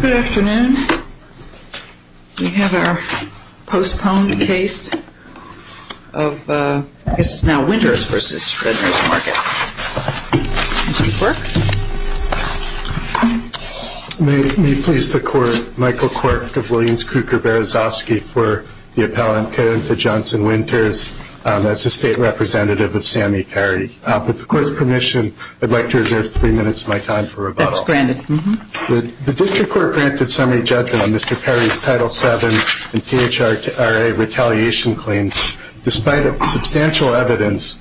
Good afternoon. We have our postponed case of, I guess it's now Winters v. Redners Market. Mr. Quirk. May it please the court, Michael Quirk of Williams, Kruker, Berezovsky for the appellant, Kedemtha Johnson Winters, as a state representative of Sammy Perry. With the court's permission, I'd like to reserve three minutes of my time for rebuttal. That's granted. The district court granted summary judgment on Mr. Perry's Title VII and PHRA retaliation claims, despite substantial evidence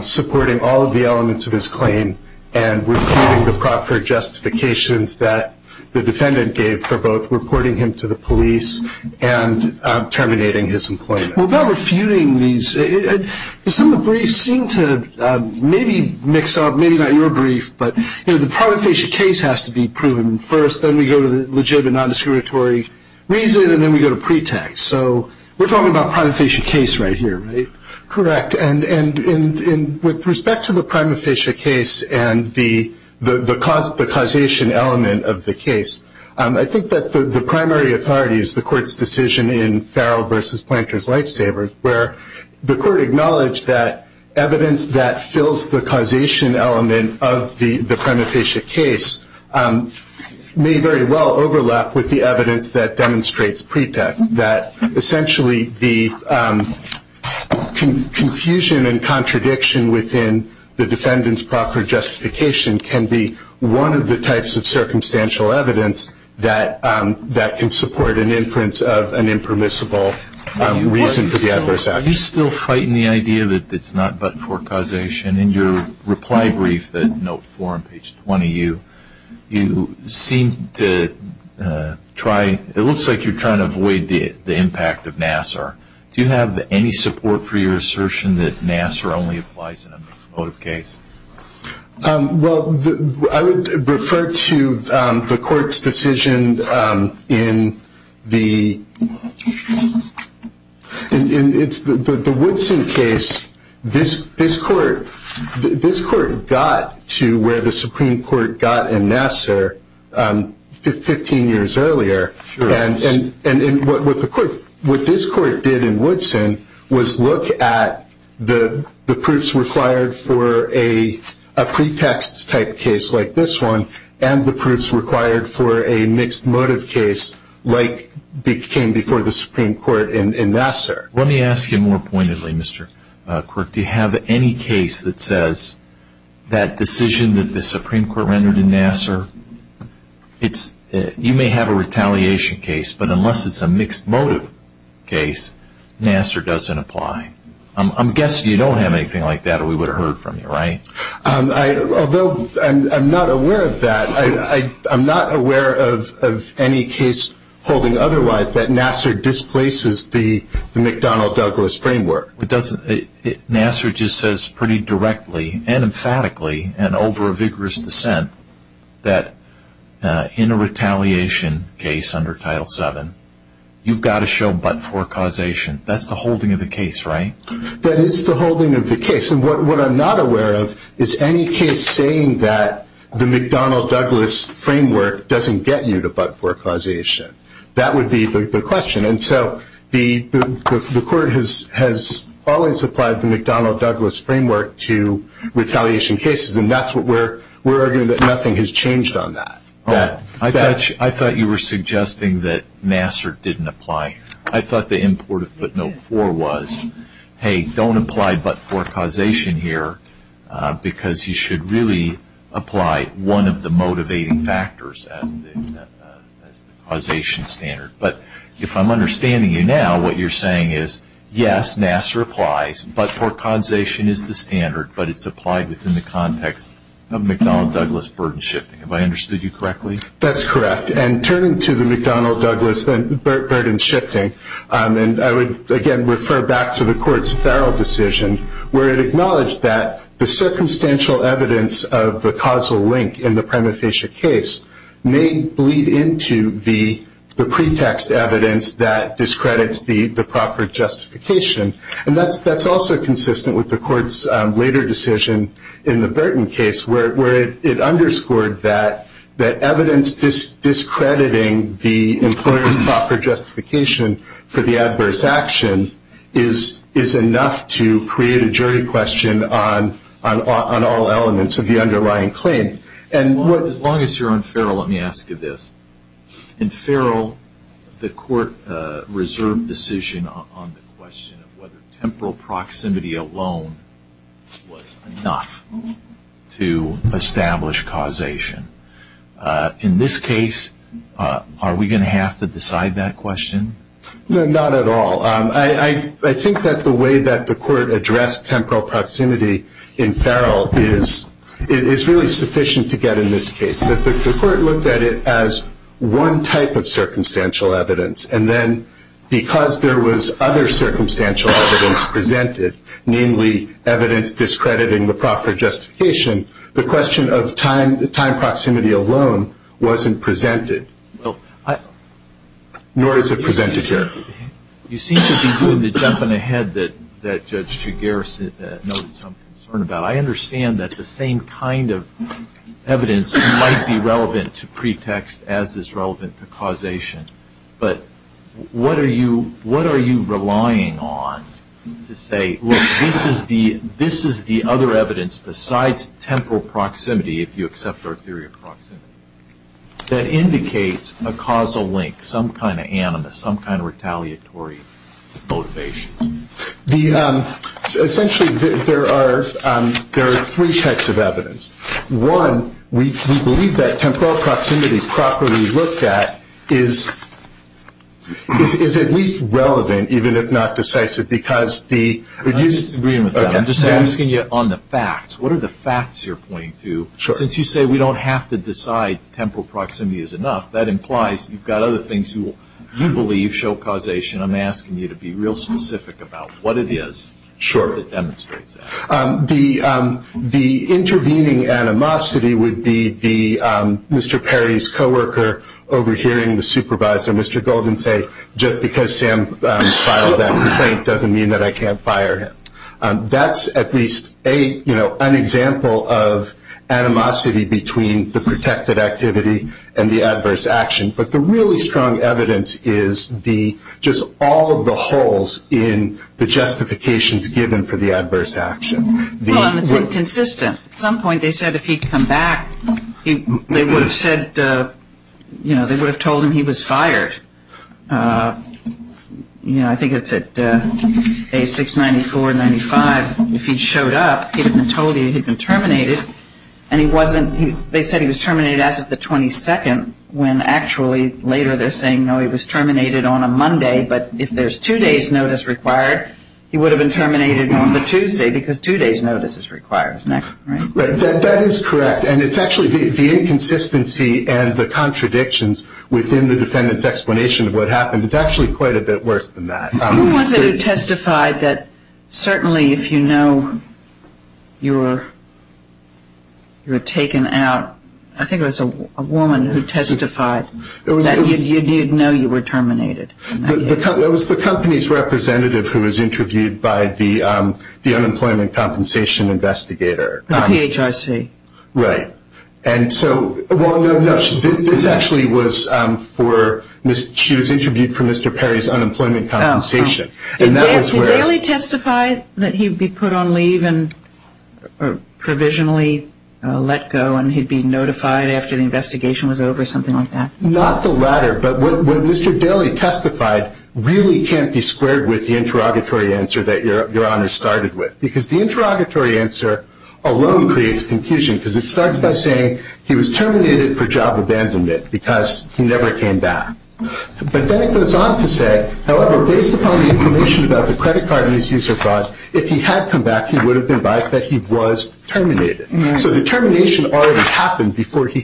supporting all of the elements of his claim and refuting the proper justifications that the defendant gave for both reporting him to the police and terminating his employment. Well, about refuting these, some of the briefs seem to maybe mix up, maybe not your brief, but the prima facie case has to be proven first, then we go to the legitimate nondiscriminatory reason, and then we go to pretext. So we're talking about a prima facie case right here, right? Correct. And with respect to the prima facie case and the causation element of the case, I think that the primary authority is the court's decision in Farrell v. Planters-Lifesavers, where the court acknowledged that evidence that fills the causation element of the prima facie case may very well overlap with the evidence that demonstrates pretext, that essentially the confusion and contradiction within the defendant's proper justification can be one of the types of circumstantial evidence that can support an inference of an impermissible reason for the adverse action. Are you still frightened of the idea that it's not but-for causation? In your reply brief at note 4 on page 20, it looks like you're trying to avoid the impact of Nassar. Do you have any support for your assertion that Nassar only applies in a mixed motive case? Well, I would refer to the court's decision in the Woodson case. This court got to where the Supreme Court got in Nassar 15 years earlier. What this court did in Woodson was look at the proofs required for a pretext type case like this one and the proofs required for a mixed motive case like came before the Supreme Court in Nassar. Let me ask you more pointedly, Mr. Quirk. Do you have any case that says that decision that the Supreme Court rendered in Nassar, you may have a retaliation case, but unless it's a mixed motive case, Nassar doesn't apply? I'm guessing you don't have anything like that or we would have heard from you, right? Although I'm not aware of that, I'm not aware of any case holding otherwise that Nassar displaces the McDonnell-Douglas framework. Nassar just says pretty directly and emphatically and over a vigorous dissent that in a retaliation case under Title VII, you've got to show but-for causation. That's the holding of the case, right? That is the holding of the case. What I'm not aware of is any case saying that the McDonnell-Douglas framework doesn't get you to but-for causation. That would be the question. And so the court has always applied the McDonnell-Douglas framework to retaliation cases, and that's what we're arguing that nothing has changed on that. I thought you were suggesting that Nassar didn't apply. I thought the import of footnote four was, hey, don't apply but-for causation here because you should really apply one of the motivating factors as the causation standard. But if I'm understanding you now, what you're saying is, yes, Nassar applies, but-for causation is the standard, but it's applied within the context of McDonnell-Douglas burden shifting. Have I understood you correctly? That's correct. And turning to the McDonnell-Douglas burden shifting, I would again refer back to the court's Farrell decision where it acknowledged that the circumstantial evidence of the causal link in the prima facie case may bleed into the pretext evidence that discredits the proper justification. And that's also consistent with the court's later decision in the Burton case where it underscored that evidence discrediting the employer's proper justification for the adverse action is enough to create a jury question on all elements of the underlying claim. As long as you're on Farrell, let me ask you this. In Farrell, the court reserved decision on the question of whether temporal proximity alone was enough to establish causation. In this case, are we going to have to decide that question? No, not at all. I think that the way that the court addressed temporal proximity in Farrell is really sufficient to get in this case. The court looked at it as one type of circumstantial evidence, and then because there was other circumstantial evidence presented, namely evidence discrediting the proper justification, the question of time proximity alone wasn't presented. Nor is it presented here. You seem to be doing the jumping ahead that Judge Chiguera noted some concern about. I understand that the same kind of evidence might be relevant to pretext as is relevant to causation, but what are you relying on to say, look, this is the other evidence besides temporal proximity, if you accept our theory of proximity, that indicates a causal link, some kind of animus, some kind of retaliatory motivation? Essentially, there are three types of evidence. One, we believe that temporal proximity properly looked at is at least relevant, even if not decisive. I'm just agreeing with that. I'm just asking you on the facts. What are the facts you're pointing to? Since you say we don't have to decide temporal proximity is enough, that implies you've got other things you believe show causation. I'm asking you to be real specific about what it is that demonstrates that. The intervening animosity would be Mr. Perry's co-worker overhearing the supervisor, Mr. Golden, say just because Sam filed that complaint doesn't mean that I can't fire him. That's at least an example of animosity between the protected activity and the adverse action, but the really strong evidence is just all of the holes in the justifications given for the adverse action. It's inconsistent. At some point they said if he'd come back, they would have told him he was fired. I think it's at page 694, 95. If he'd showed up, he'd have been told he had been terminated, and they said he was terminated as of the 22nd when actually later they're saying, no, he was terminated on a Monday, but if there's two days' notice required, he would have been terminated on the Tuesday because two days' notice is required. That is correct, and it's actually the inconsistency and the contradictions within the defendant's explanation of what happened. It's actually quite a bit worse than that. Who was it who testified that certainly if you know you were taken out? I think it was a woman who testified that you didn't know you were terminated. It was the company's representative who was interviewed by the unemployment compensation investigator. The PHRC. Right. Well, no, this actually was for she was interviewed for Mr. Perry's unemployment compensation. Did Daly testify that he'd be put on leave and provisionally let go and he'd be notified after the investigation was over, something like that? Not the latter, but what Mr. Daly testified really can't be squared with the interrogatory answer that Your Honor started with because the interrogatory answer alone creates confusion because it starts by saying he was terminated for job abandonment because he never came back. But then it goes on to say, however, based upon the information about the credit card and his user fraud, if he had come back, he would have been advised that he was terminated. So the termination already happened before he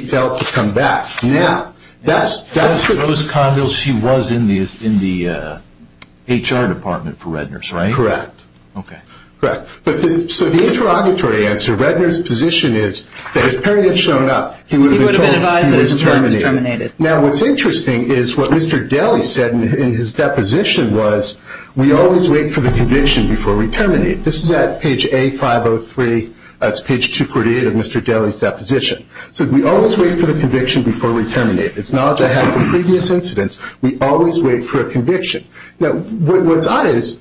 failed to come back. Ms. Rose Conville, she was in the HR department for Redner's, right? Correct. Okay. Correct. So the interrogatory answer, Redner's position is that if Perry had shown up, he would have been told he was terminated. Now, what's interesting is what Mr. Daly said in his deposition was, we always wait for the conviction before we terminate. This is at page A503, that's page 248 of Mr. Daly's deposition. So we always wait for the conviction before we terminate. It's knowledge I have from previous incidents. We always wait for a conviction. Now, what's odd is,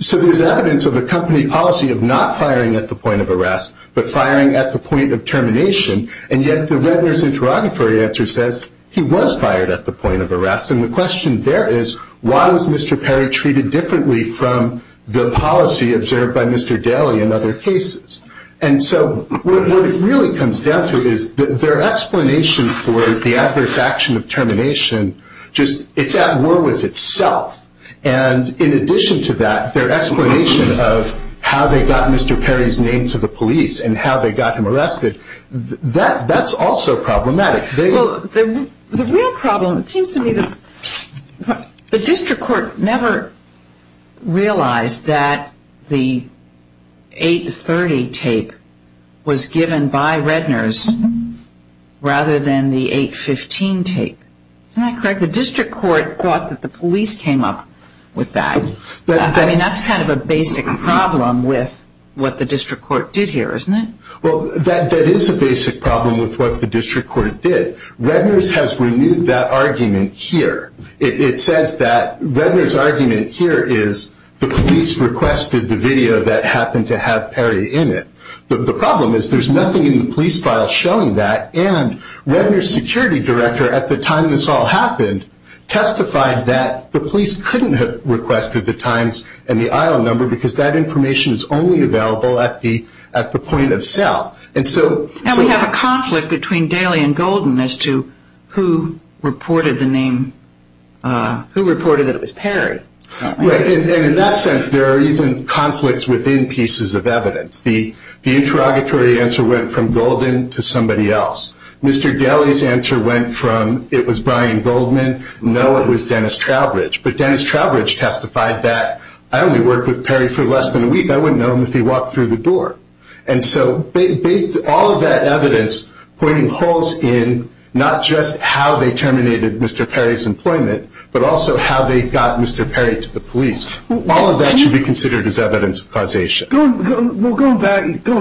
so there's evidence of a company policy of not firing at the point of arrest but firing at the point of termination, and yet the Redner's interrogatory answer says he was fired at the point of arrest. And the question there is, why was Mr. Perry treated differently from the policy observed by Mr. Daly in other cases? And so what it really comes down to is their explanation for the adverse action of termination just, it's at war with itself. And in addition to that, their explanation of how they got Mr. Perry's name to the police and how they got him arrested, that's also problematic. Well, the real problem, it seems to me, the district court never realized that the 830 tape was given by Redner's rather than the 815 tape. Isn't that correct? The district court thought that the police came up with that. I mean, that's kind of a basic problem with what the district court did here, isn't it? Well, that is a basic problem with what the district court did. Redner's has renewed that argument here. It says that Redner's argument here is the police requested the video that happened to have Perry in it. The problem is there's nothing in the police file showing that, and Redner's security director at the time this all happened testified that the police couldn't have requested the times and the aisle number because that information is only available at the point of sale. And we have a conflict between Daly and Golden as to who reported the name, who reported that it was Perry. And in that sense, there are even conflicts within pieces of evidence. The interrogatory answer went from Golden to somebody else. Mr. Daly's answer went from it was Brian Goldman, no, it was Dennis Trowbridge. But Dennis Trowbridge testified that I only worked with Perry for less than a week. I wouldn't know him if he walked through the door. And so all of that evidence pointing holes in not just how they terminated Mr. Perry's employment, but also how they got Mr. Perry to the police, all of that should be considered as evidence of causation. Well, going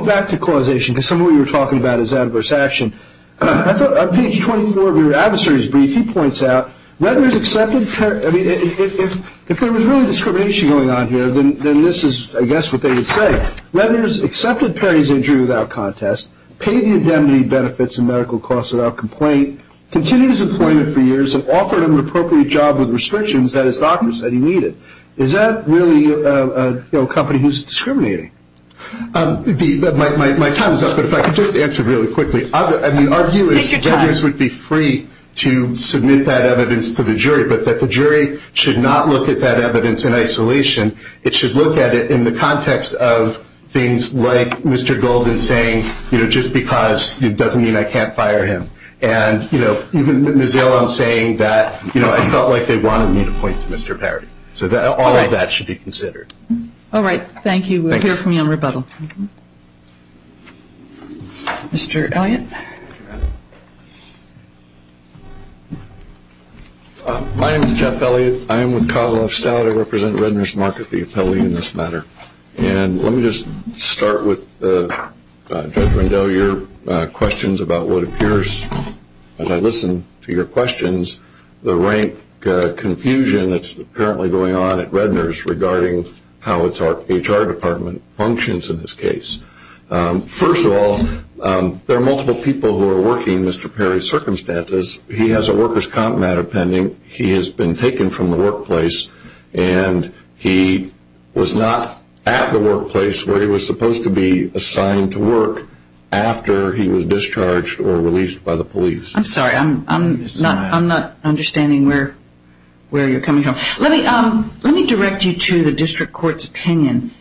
back to causation, because some of what you were talking about is adverse action, I thought on page 24 of your adversary's brief he points out, if there was really discrimination going on here, then this is, I guess, what they would say. Ledner's accepted Perry's injury without contest, paid the indemnity benefits and medical costs without complaint, continued his employment for years and offered him an appropriate job with restrictions that his doctors said he needed. Is that really a company who's discriminating? My time is up, but if I could just answer really quickly. I mean, our view is veterans would be free to submit that evidence to the jury, but that the jury should not look at that evidence in isolation. It should look at it in the context of things like Mr. Goldman saying, you know, just because it doesn't mean I can't fire him. And, you know, even Ms. Elam saying that, you know, I felt like they wanted me to point to Mr. Perry. So all of that should be considered. All right. Thank you. We'll hear from you on rebuttal. Mr. Elliott. My name is Jeff Elliott. I am with Kozloff Stout. I represent Redner's Market, the appellee in this matter. And let me just start with Judge Rendell, your questions about what appears, as I listen to your questions, the rank confusion that's apparently going on at Redner's regarding how its HR department functions in this case. First of all, there are multiple people who are working Mr. Perry's circumstances. He has a worker's comp matter pending. He has been taken from the workplace, and he was not at the workplace where he was supposed to be assigned to work after he was discharged or released by the police. I'm sorry. I'm not understanding where you're coming from. Let me direct you to the district court's opinion.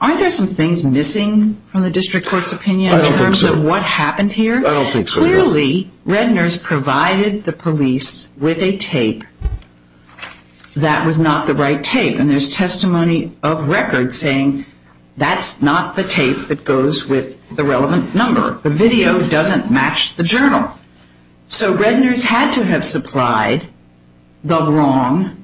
Aren't there some things missing from the district court's opinion in terms of what happened here? I don't think so. Clearly, Redner's provided the police with a tape that was not the right tape. And there's testimony of record saying that's not the tape that goes with the relevant number. The video doesn't match the journal. So Redner's had to have supplied the wrong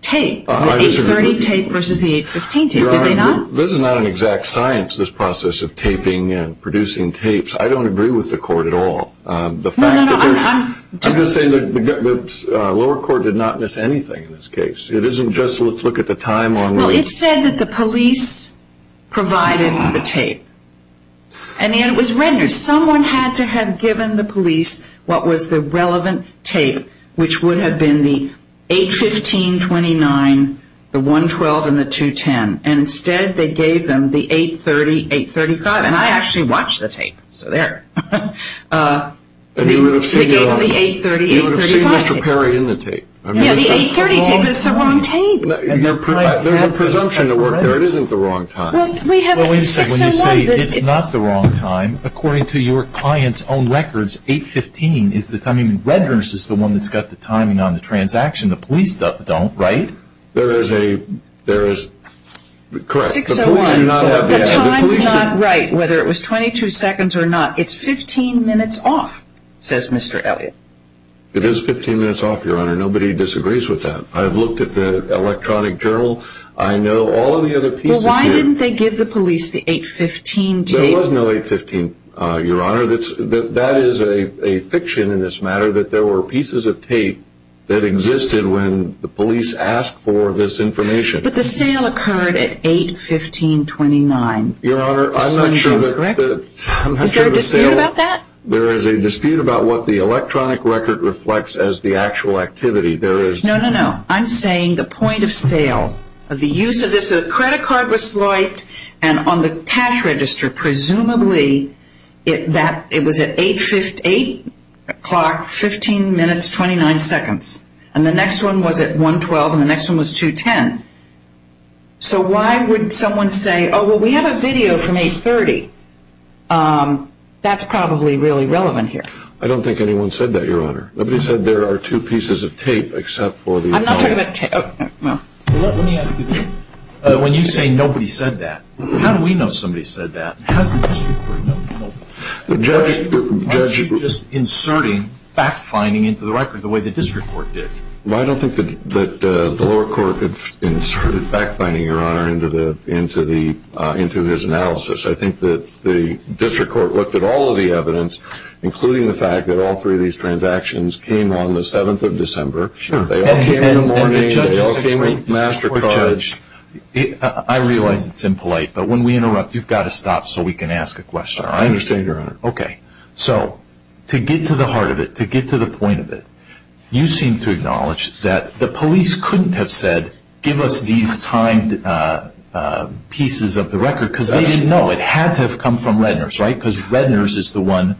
tape, the 830 tape versus the 815 tape, did they not? This is not an exact science, this process of taping and producing tapes. I don't agree with the court at all. No, no, no. I'm just saying the lower court did not miss anything in this case. It isn't just let's look at the time only. Well, it said that the police provided the tape. And yet it was Redner. Someone had to have given the police what was the relevant tape, which would have been the 815, 29, the 112, and the 210. And instead they gave them the 830, 835. And I actually watched the tape, so there. They gave them the 830, 835 tape. You would have seen Mr. Perry in the tape. Yeah, the 830 tape, but it's the wrong tape. There's a presumption at work there. It isn't the wrong time. Well, when you say it's not the wrong time, according to your client's own records, 815 is the timing. Redner's is the one that's got the timing on the transaction. The police don't, right? There is a, there is. Correct. 601. The time's not right, whether it was 22 seconds or not. It's 15 minutes off, says Mr. Elliott. It is 15 minutes off, Your Honor. Nobody disagrees with that. I've looked at the electronic journal. I know all of the other pieces here. Well, why didn't they give the police the 815 tape? There was no 815, Your Honor. That is a fiction in this matter, that there were pieces of tape that existed when the police asked for this information. But the sale occurred at 815.29. Your Honor, I'm not sure the sale. Is there a dispute about that? There is a dispute about what the electronic record reflects as the actual activity. No, no, no. I'm saying the point of sale of the use of this. The credit card was swiped, and on the cash register, presumably, it was at 8 o'clock, 15 minutes, 29 seconds. And the next one was at 1.12, and the next one was 2.10. So why would someone say, oh, well, we have a video from 8.30? That's probably really relevant here. I don't think anyone said that, Your Honor. Nobody said there are two pieces of tape except for the phone. I'm not talking about tape. Well, let me ask you this. When you say nobody said that, how do we know somebody said that? How did the district court know? Why aren't you just inserting fact-finding into the record the way the district court did? Well, I don't think that the lower court inserted fact-finding, Your Honor, into his analysis. I think that the district court looked at all of the evidence, including the fact that all three of these transactions came on the 7th of December. They all came in the morning. They all came with master cards. I realize it's impolite, but when we interrupt, you've got to stop so we can ask a question, all right? I understand, Your Honor. Okay. So to get to the heart of it, to get to the point of it, you seem to acknowledge that the police couldn't have said, give us these timed pieces of the record because they didn't know it had to have come from Redner's, right? Because Redner's is the one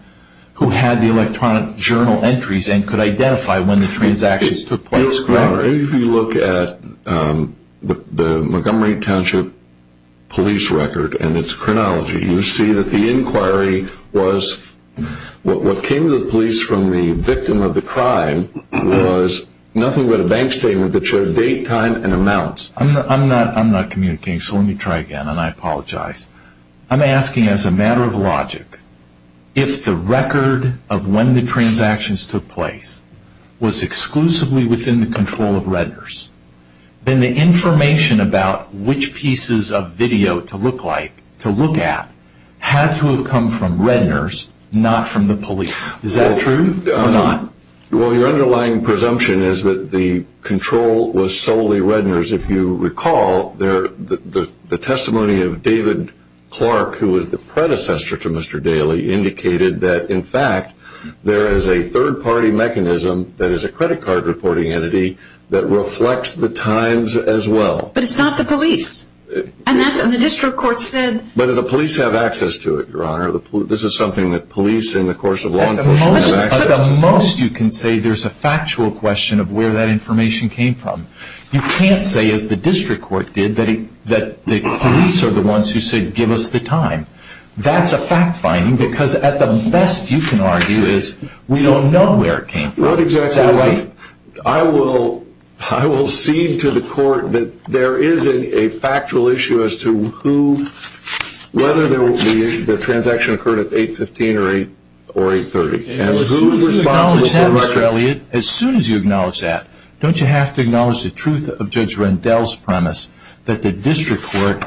who had the electronic journal entries and could identify when the transactions took place, correct? If you look at the Montgomery Township police record and its chronology, you see that the inquiry was what came to the police from the victim of the crime was nothing but a bank statement that showed date, time, and amounts. I'm not communicating, so let me try again, and I apologize. I'm asking, as a matter of logic, if the record of when the transactions took place was exclusively within the control of Redner's, then the information about which pieces of video to look at had to have come from Redner's, not from the police. Is that true or not? Well, your underlying presumption is that the control was solely Redner's. If you recall, the testimony of David Clark, who was the predecessor to Mr. Daley, indicated that, in fact, there is a third-party mechanism, that is a credit card reporting entity, that reflects the times as well. But it's not the police, and the district court said... But the police have access to it, Your Honor. At the most, you can say there's a factual question of where that information came from. You can't say, as the district court did, that the police are the ones who said, give us the time. That's a fact-finding, because at the best, you can argue, is we don't know where it came from. What exactly... Is that right? I will cede to the court that there is a factual issue as to whether the transaction occurred at 8.15 or 8.30 And as soon as you acknowledge that, Mr. Elliott, as soon as you acknowledge that, don't you have to acknowledge the truth of Judge Rendell's premise, that the district court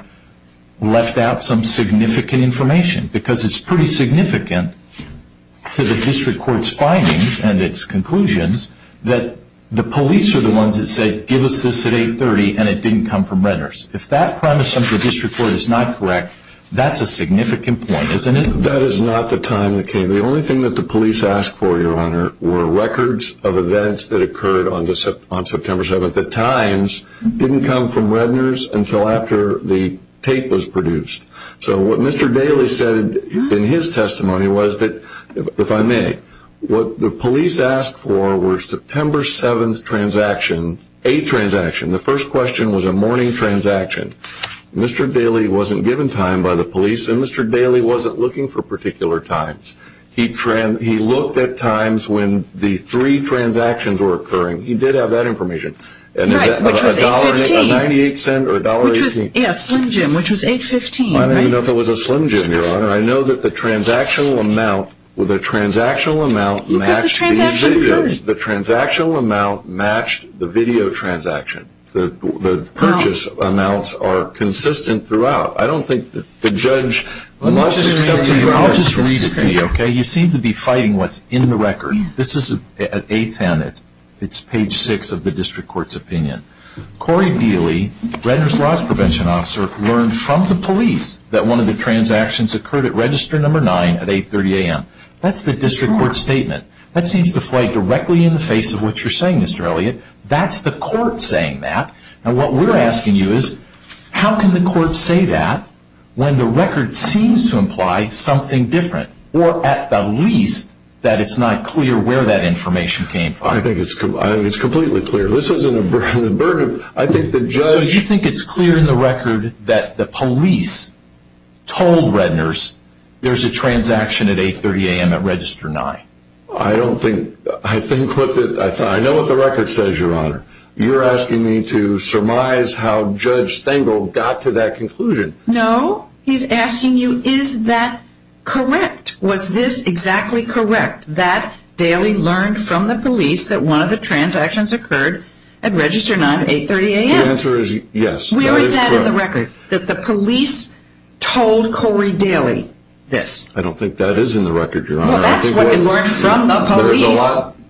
left out some significant information? Because it's pretty significant to the district court's findings and its conclusions, that the police are the ones that said, give us this at 8.30, and it didn't come from Redner's. If that premise of the district court is not correct, that's a significant point, isn't it? That is not the time that came. The only thing that the police asked for, Your Honor, were records of events that occurred on September 7th. The times didn't come from Redner's until after the tape was produced. So what Mr. Daley said in his testimony was that, if I may, what the police asked for was a September 7th transaction, a transaction. The first question was a morning transaction. Mr. Daley wasn't given time by the police, and Mr. Daley wasn't looking for particular times. He looked at times when the three transactions were occurring. He did have that information. Right, which was 8.15. A $1.98 or a $1.80. Yes, Slim Jim, which was 8.15, right? I don't even know if it was a Slim Jim, Your Honor. I know that the transactional amount matched the video transaction. The purchase amounts are consistent throughout. I don't think the judge must be— I'll just read it to you, okay? You seem to be fighting what's in the record. This is at 8.10. It's page 6 of the district court's opinion. Corey Daley, Redner's loss prevention officer, learned from the police that one of the transactions occurred at register number 9 at 8.30 a.m. That's the district court's statement. That seems to fly directly in the face of what you're saying, Mr. Elliott. That's the court saying that. And what we're asking you is how can the court say that when the record seems to imply something different or at the least that it's not clear where that information came from? I think it's completely clear. This isn't a burden. I think the judge— So you think it's clear in the record that the police told Redner's there's a transaction at 8.30 a.m. at register 9? I don't think—I think what the—I know what the record says, Your Honor. You're asking me to surmise how Judge Stengel got to that conclusion. No, he's asking you is that correct? Was this exactly correct, that Daley learned from the police that one of the transactions occurred at register 9 at 8.30 a.m.? The answer is yes. Where is that in the record, that the police told Corey Daley this? I don't think that is in the record, Your Honor. Well, that's what it learned from the police.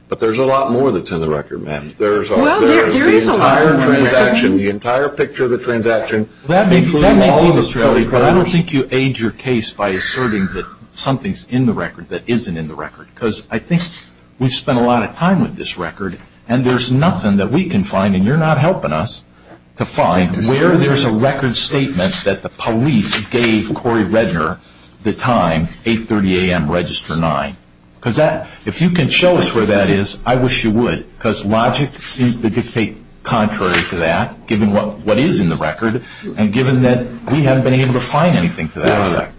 But there's a lot more that's in the record, ma'am. Well, there is a lot in the record. There's the entire transaction, the entire picture of the transaction. That may be, Mr. Elliott, but I don't think you aid your case by asserting that something's in the record that isn't in the record because I think we've spent a lot of time with this record and there's nothing that we can find, and you're not helping us, to find where there's a record statement that the police gave Corey Redner the time, 8.30 a.m., register 9. If you can show us where that is, I wish you would because logic seems to dictate contrary to that, given what is in the record, and given that we haven't been able to find anything to that effect.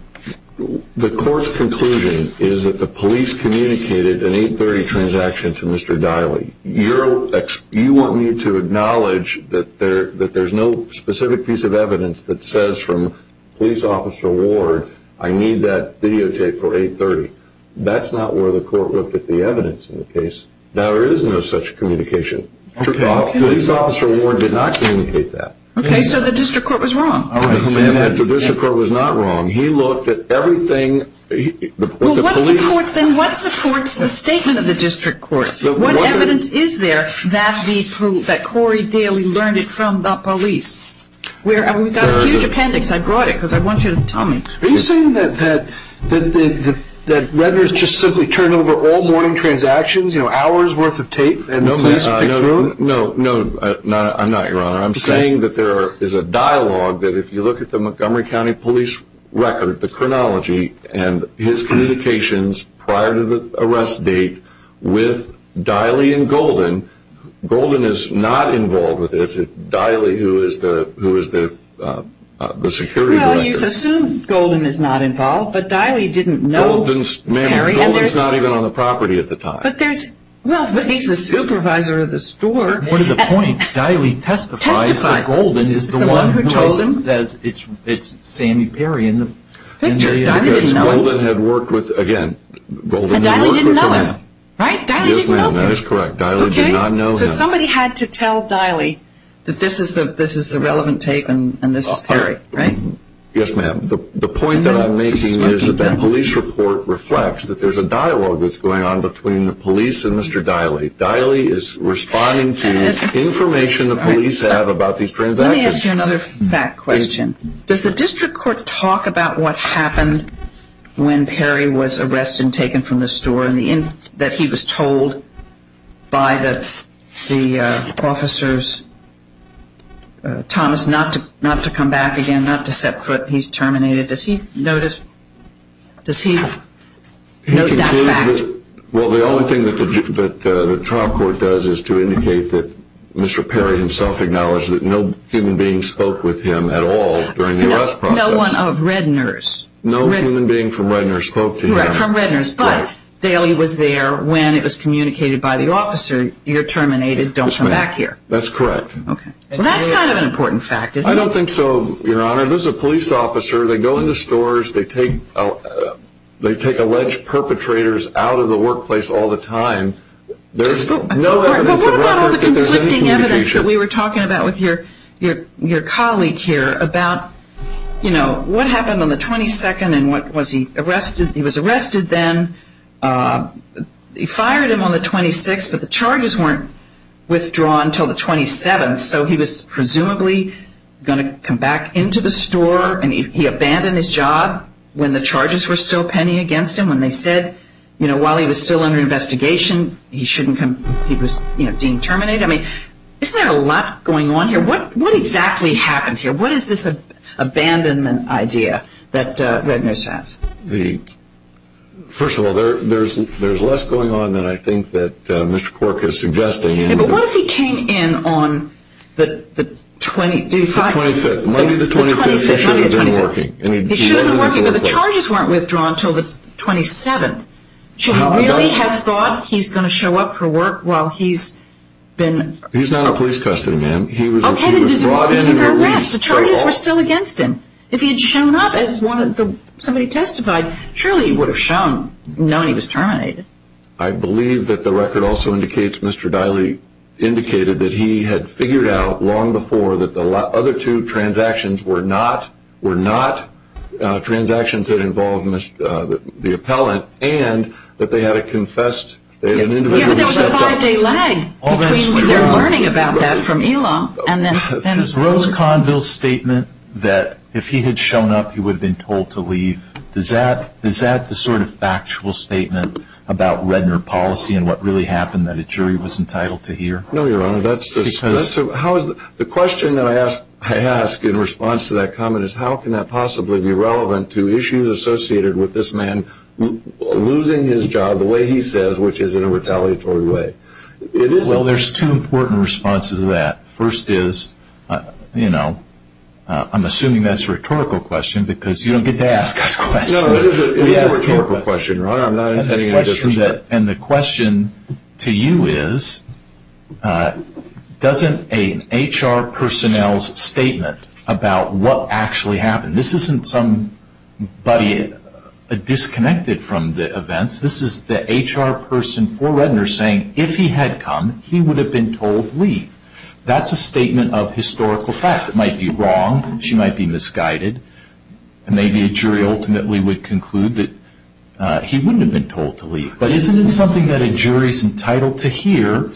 The court's conclusion is that the police communicated an 8.30 transaction to Mr. Daley. You want me to acknowledge that there's no specific piece of evidence that says from police officer Ward, I need that videotape for 8.30. That's not where the court looked at the evidence in the case. There is no such communication. Police officer Ward did not communicate that. Okay, so the district court was wrong. The district court was not wrong. He looked at everything. What supports the statement of the district court? What evidence is there that Corey Daley learned it from the police? We've got a huge appendix. I brought it because I want you to tell me. Are you saying that Redner just simply turned over all morning transactions, hours worth of tape, and the police picked through it? No, I'm not, Your Honor. I'm saying that there is a dialogue that if you look at the Montgomery County Police record, the chronology and his communications prior to the arrest date with Daley and Golden, Golden is not involved with this. It's Daley who is the security director. Well, you assume Golden is not involved, but Daley didn't know Perry. Golden's not even on the property at the time. Well, but he's the supervisor of the store. What's the point? Daley testifies that Golden is the one who told him. It's Sammy Perry in the picture. Daley didn't know him. Again, Golden didn't work with him. Daley didn't know him. Right? Daley didn't know Perry. Yes, ma'am, that is correct. Daley did not know him. So somebody had to tell Daley that this is the relevant tape and this is Perry, right? Yes, ma'am. The point that I'm making is that the police report reflects that there's a dialogue that's going on between the police and Mr. Daley. Daley is responding to information the police have about these transactions. Let me ask you another fact question. Does the district court talk about what happened when Perry was arrested and taken from the store and that he was told by the officers, Thomas, not to come back again, not to set foot? He's terminated. Does he notice that fact? Well, the only thing that the trial court does is to indicate that Mr. Perry himself acknowledged that no human being spoke with him at all during the arrest process. No one of Redner's. No human being from Redner's spoke to him. Right, from Redner's. But Daley was there when it was communicated by the officer, you're terminated, don't come back here. That's correct. Okay. That's kind of an important fact, isn't it? I don't think so, Your Honor. This is a police officer. They go into stores. They take alleged perpetrators out of the workplace all the time. There's no evidence of record that there's any communication. There was a case that we were talking about with your colleague here about, you know, what happened on the 22nd and what was he arrested? He was arrested then. They fired him on the 26th, but the charges weren't withdrawn until the 27th, so he was presumably going to come back into the store. And he abandoned his job when the charges were still pending against him, when they said, you know, while he was still under investigation, he shouldn't come. He was deemed terminated. I mean, isn't there a lot going on here? What exactly happened here? What is this abandonment idea that Redner says? First of all, there's less going on than I think that Mr. Cork is suggesting. But what if he came in on the 25th? The 25th. He should have been working. He should have been working, but the charges weren't withdrawn until the 27th. Should he really have thought he's going to show up for work while he's been? He's not in police custody, ma'am. He was brought in and released straight off. The charges were still against him. If he had shown up, as somebody testified, surely he would have shown, known he was terminated. I believe that the record also indicates, Mr. Diley indicated, that he had figured out long before that the other two transactions were not transactions that involved the appellant and that they had a confessed individual. Yeah, but there was a five-day lag between their learning about that from ELA. Is Rose Conville's statement that if he had shown up, he would have been told to leave, is that the sort of factual statement about Redner policy and what really happened that a jury was entitled to hear? No, Your Honor. The question that I ask in response to that comment is how can that possibly be relevant to issues associated with this man losing his job the way he says, which is in a retaliatory way? Well, there's two important responses to that. First is, you know, I'm assuming that's a rhetorical question because you don't get to ask us questions. No, it is a rhetorical question, Your Honor. I'm not intending any disrespect. And the question to you is doesn't an HR personnel's statement about what actually happened, this isn't somebody disconnected from the events, this is the HR person for Redner saying if he had come, he would have been told to leave. That's a statement of historical fact. It might be wrong, she might be misguided, and maybe a jury ultimately would conclude that he wouldn't have been told to leave. But isn't it something that a jury's entitled to hear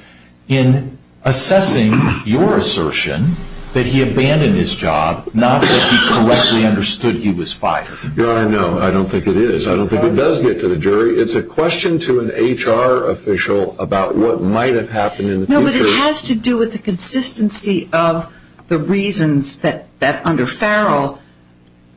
in assessing your assertion that he abandoned his job not that he correctly understood he was fired? Your Honor, no, I don't think it is. I don't think it does get to the jury. It's a question to an HR official about what might have happened in the future. No, but it has to do with the consistency of the reasons that under Farrell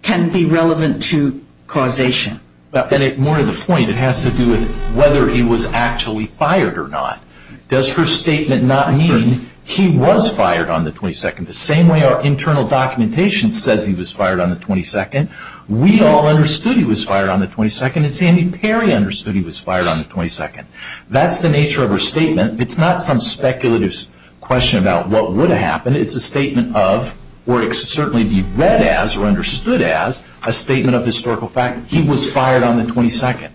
can be relevant to causation. And more to the point, it has to do with whether he was actually fired or not. Does her statement not mean he was fired on the 22nd, the same way our internal documentation says he was fired on the 22nd? We all understood he was fired on the 22nd, and Sandy Perry understood he was fired on the 22nd. That's the nature of her statement. It's not some speculative question about what would have happened. It's a statement of, or it could certainly be read as or understood as, a statement of historical fact, he was fired on the 22nd.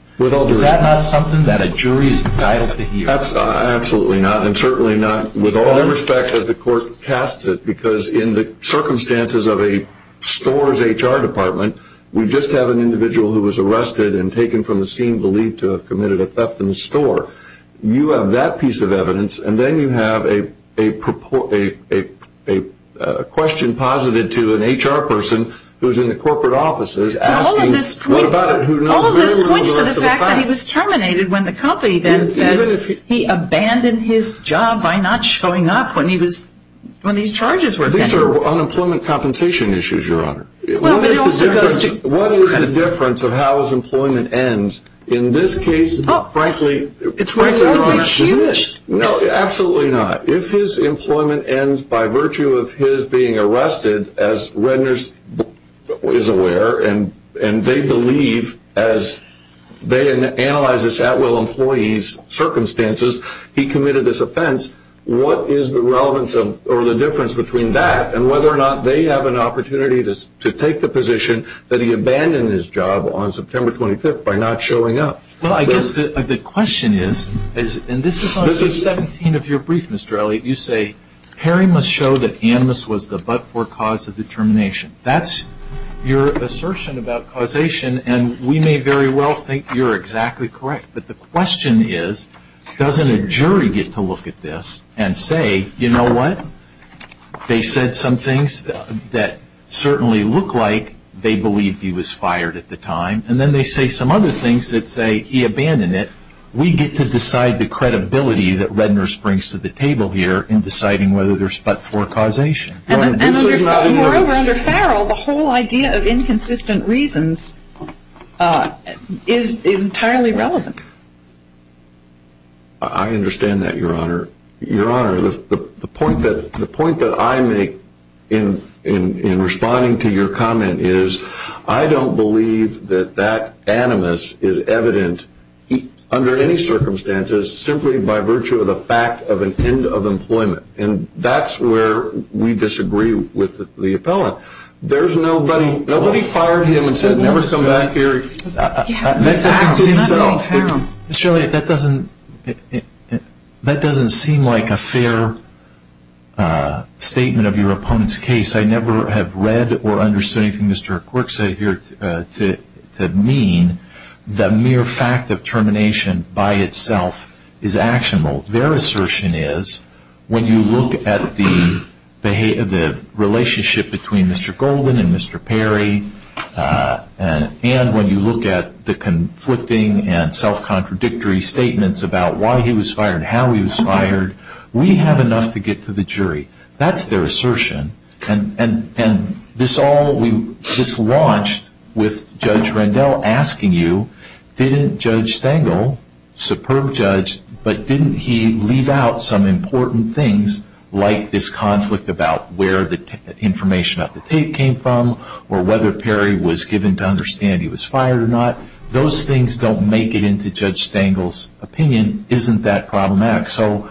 Is that not something that a jury is entitled to hear? Absolutely not, and certainly not with all due respect as the court casts it, because in the circumstances of a store's HR department, we just have an individual who was arrested and taken from the scene believed to have committed a theft in the store. You have that piece of evidence, and then you have a question posited to an HR person who is in the corporate offices asking, all of this points to the fact that he was terminated when the company then says he abandoned his job by not showing up when these charges were pending. These are unemployment compensation issues, Your Honor. What is the difference of how his employment ends in this case, frankly? It's a huge... No, absolutely not. If his employment ends by virtue of his being arrested, as Redner is aware, and they believe as they analyze this at-will employee's circumstances, he committed this offense, what is the relevance or the difference between that and whether or not they have an opportunity to take the position that he abandoned his job on September 25th by not showing up? Well, I guess the question is, and this is on page 17 of your brief, Mr. Elliott, you say, Perry must show that Amos was the but-for cause of the termination. That's your assertion about causation, and we may very well think you're exactly correct, but the question is, doesn't a jury get to look at this and say, you know what, they said some things that certainly look like they believe he was fired at the time, and then they say some other things that say he abandoned it. We get to decide the credibility that Redner springs to the table here in deciding whether there's but-for causation. Moreover, under Farrell, the whole idea of inconsistent reasons is entirely relevant. I understand that, Your Honor. Your Honor, the point that I make in responding to your comment is, I don't believe that that Amos is evident under any circumstances simply by virtue of the fact of an end of employment, and that's where we disagree with the appellant. Nobody fired him and said, never come back here. That doesn't seem so. Mr. Elliott, that doesn't seem like a fair statement of your opponent's case. I never have read or understood anything Mr. Quirk said here to mean the mere fact of termination by itself is actionable. Their assertion is, when you look at the relationship between Mr. Golden and Mr. Perry, and when you look at the conflicting and self-contradictory statements about why he was fired, how he was fired, we have enough to get to the jury. That's their assertion, and this all we just launched with Judge Rendell asking you, didn't Judge Stengel, superb judge, but didn't he leave out some important things like this conflict about where the information of the tape came from or whether Perry was given to understand he was fired or not? Those things don't make it into Judge Stengel's opinion, isn't that problematic? So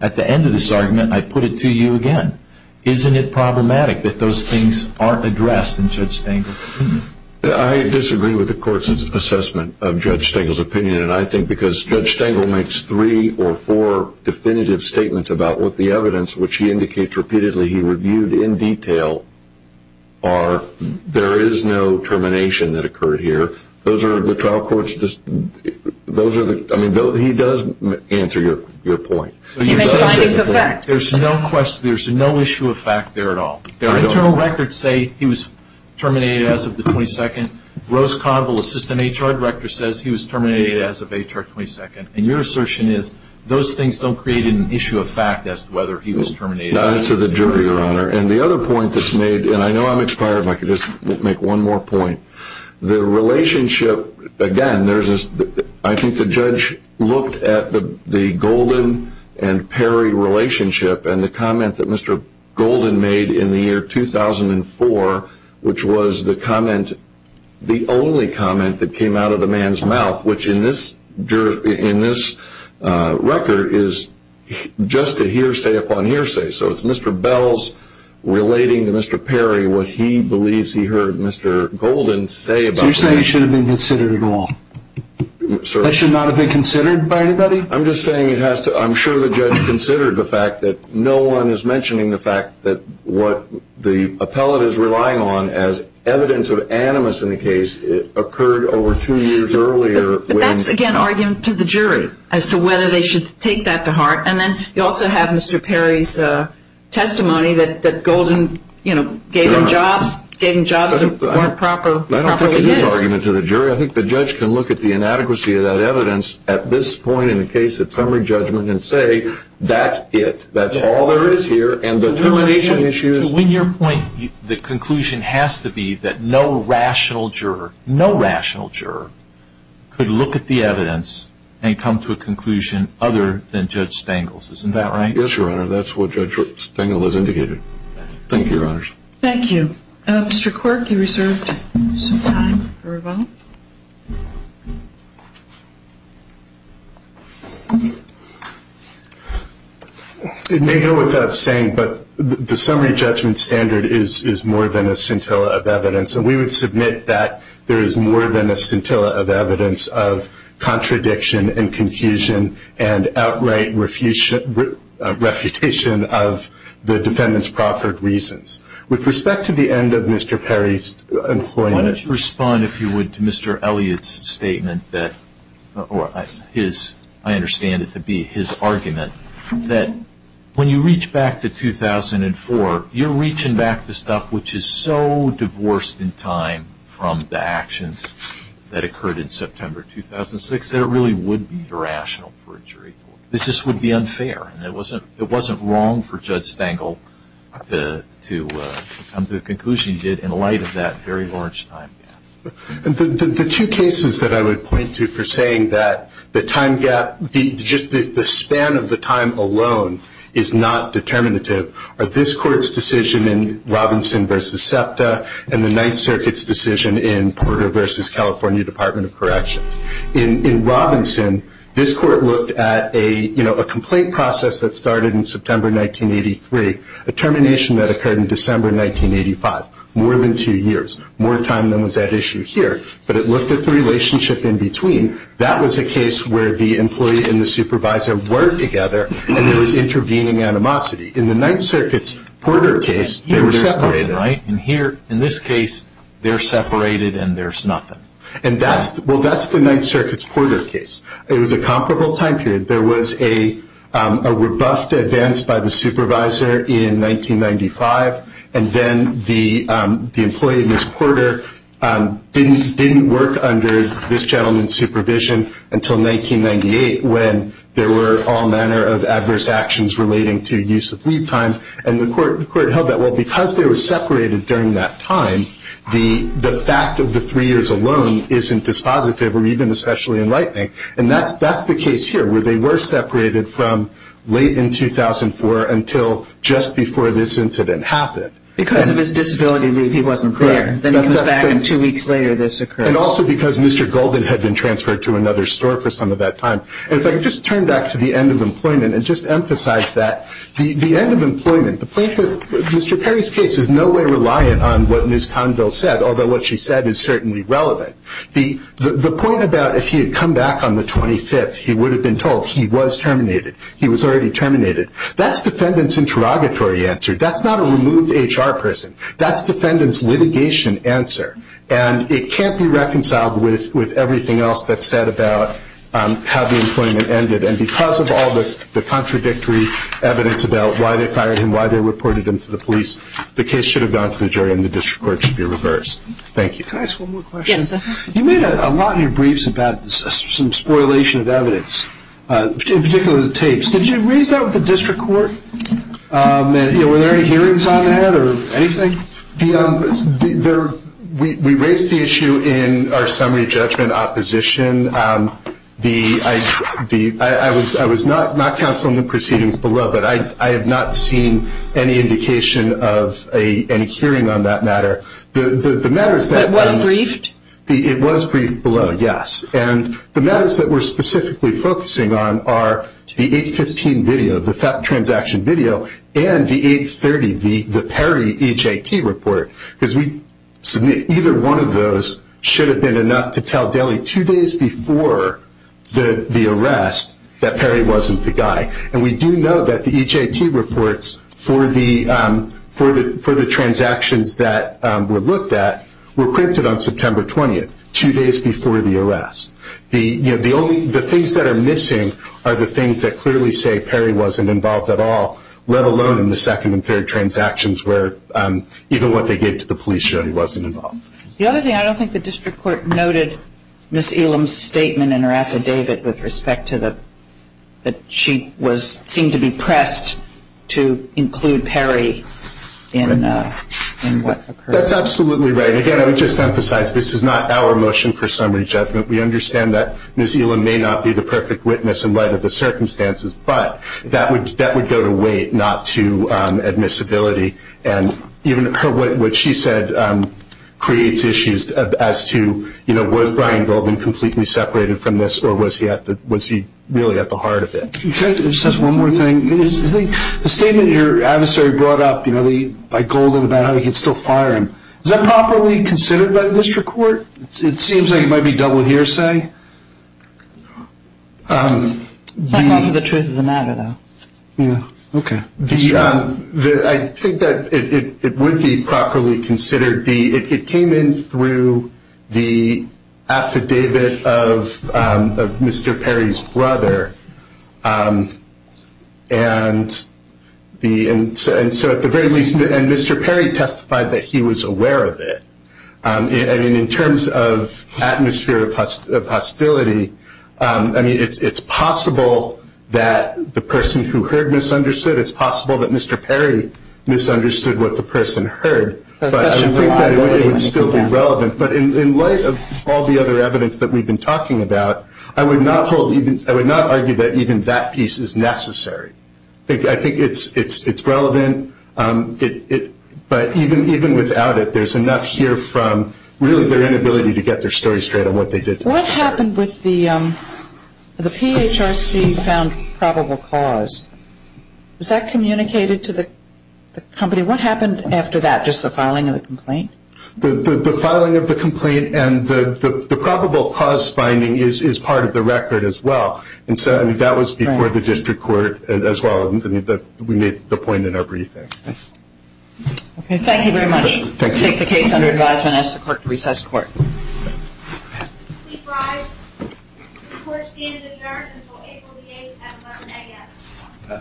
at the end of this argument, I put it to you again, isn't it problematic that those things aren't addressed in Judge Stengel's opinion? I disagree with the court's assessment of Judge Stengel's opinion, and I think because Judge Stengel makes three or four definitive statements about what the evidence, which he indicates repeatedly he reviewed in detail, there is no termination that occurred here. He does answer your point. There's no issue of fact there at all. Internal records say he was terminated as of the 22nd. Rose Conville, assistant HR director, says he was terminated as of HR 22nd, and your assertion is those things don't create an issue of fact as to whether he was terminated. To the jury, Your Honor, and the other point that's made, and I know I'm expired, but I can just make one more point. The relationship, again, I think the judge looked at the Golden and Perry relationship and the comment that Mr. Golden made in the year 2004, which was the comment, the only comment that came out of the man's mouth, which in this record is just a hearsay upon hearsay. So it's Mr. Bell's relating to Mr. Perry what he believes he heard Mr. Golden say about Perry. So you're saying it should have been considered at all? Certainly. That should not have been considered by anybody? I'm just saying I'm sure the judge considered the fact that no one is mentioning the fact that what the appellate is relying on as evidence of animus in the case occurred over two years earlier. But that's, again, argument to the jury as to whether they should take that to heart. And then you also have Mr. Perry's testimony that Golden gave him jobs that weren't properly his. I don't think it is argument to the jury. I think the judge can look at the inadequacy of that evidence at this point in the case of summary judgment and say that's it. That's all there is here. And the termination issue is- To win your point, the conclusion has to be that no rational juror, no rational juror, could look at the evidence and come to a conclusion other than Judge Stengel's. Isn't that right? Yes, Your Honor. That's what Judge Stengel has indicated. Thank you, Your Honors. Thank you. Mr. Quirk, you reserved some time for a vote. It may go without saying, but the summary judgment standard is more than a scintilla of evidence. And we would submit that there is more than a scintilla of evidence of contradiction and confusion and outright refutation of the defendant's proffered reasons. With respect to the end of Mr. Perry's employment- Why don't you respond, if you would, to Mr. Elliott's statement that, or his, I understand it to be his argument, that when you reach back to 2004, you're reaching back to stuff which is so divorced in time from the actions that occurred in September 2006 that it really would be irrational for a jury. This just would be unfair. It wasn't wrong for Judge Stengel to come to the conclusion he did in light of that very large time gap. The two cases that I would point to for saying that the time gap, just the span of the time alone is not determinative are this Court's decision in Robinson v. SEPTA and the Ninth Circuit's decision in Porter v. California Department of Corrections. In Robinson, this Court looked at a complaint process that started in September 1983, a termination that occurred in December 1985, more than two years, more time than was at issue here, but it looked at the relationship in between. That was a case where the employee and the supervisor were together and there was intervening animosity. In the Ninth Circuit's Porter case, they were separated. In this case, they're separated and there's nothing. That's the Ninth Circuit's Porter case. It was a comparable time period. There was a rebuffed advance by the supervisor in 1995, and then the employee, Ms. Porter, didn't work under this gentleman's supervision until 1998 when there were all manner of adverse actions relating to use of leave time. The Court held that because they were separated during that time, the fact of the three years alone isn't dispositive or even especially enlightening. And that's the case here where they were separated from late in 2004 until just before this incident happened. Because of his disability leave, he wasn't there. Then he was back and two weeks later this occurred. And also because Mr. Golden had been transferred to another store for some of that time. And if I could just turn back to the end of employment and just emphasize that. The end of employment, Mr. Perry's case is in no way reliant on what Ms. Conville said, although what she said is certainly relevant. The point about if he had come back on the 25th, he would have been told he was terminated. He was already terminated. That's defendants' interrogatory answer. That's not a removed HR person. That's defendants' litigation answer. And it can't be reconciled with everything else that's said about how the employment ended. And because of all the contradictory evidence about why they fired him, why they reported him to the police, the case should have gone to the jury and the district court should be reversed. Thank you. Can I ask one more question? Yes, sir. You made a lot in your briefs about some spoilation of evidence, in particular the tapes. Did you raise that with the district court? Were there any hearings on that or anything? We raised the issue in our summary judgment opposition. I was not counseling the proceedings below, but I have not seen any indication of any hearing on that matter. It was briefed? It was briefed below, yes. And the matters that we're specifically focusing on are the 815 video, the transaction video, and the 830, the Perry HIT report, because either one of those should have been enough to tell Daley two days before the arrest that Perry wasn't the guy. And we do know that the HIT reports for the transactions that were looked at were printed on September 20th, two days before the arrest. The things that are missing are the things that clearly say Perry wasn't involved at all, let alone in the second and third transactions where even what they gave to the police showed he wasn't involved. The other thing I don't think the district court noted, Ms. Elam's statement in her affidavit with respect to that she seemed to be pressed to include Perry in what occurred. That's absolutely right. Again, I would just emphasize this is not our motion for summary judgment. We understand that Ms. Elam may not be the perfect witness in light of the circumstances, but that would go to weight, not to admissibility. And even what she said creates issues as to, you know, was Brian Golden completely separated from this, or was he really at the heart of it? Just one more thing. The statement your adversary brought up, you know, by Golden about how he could still fire him, is that properly considered by the district court? It seems like it might be double hearsay. The truth of the matter, though. Yeah. Okay. I think that it would be properly considered. It came in through the affidavit of Mr. Perry's brother, and so at the very least, and Mr. Perry testified that he was aware of it. I mean, in terms of atmosphere of hostility, I mean, it's possible that the person who heard misunderstood. It's possible that Mr. Perry misunderstood what the person heard. But I think that it would still be relevant. But in light of all the other evidence that we've been talking about, I would not argue that even that piece is necessary. I think it's relevant. But even without it, there's enough here from really their inability to get their story straight on what they did. What happened with the PHRC found probable cause? Was that communicated to the company? What happened after that, just the filing of the complaint? The filing of the complaint and the probable cause finding is part of the record as well. And so, I mean, that was before the district court as well. I mean, we made the point in our briefing. Okay. Thank you very much. Thank you. I take the case under advisement and ask the court to recess the court. Please rise. The court stands adjourned until April the 8th at 11 a.m.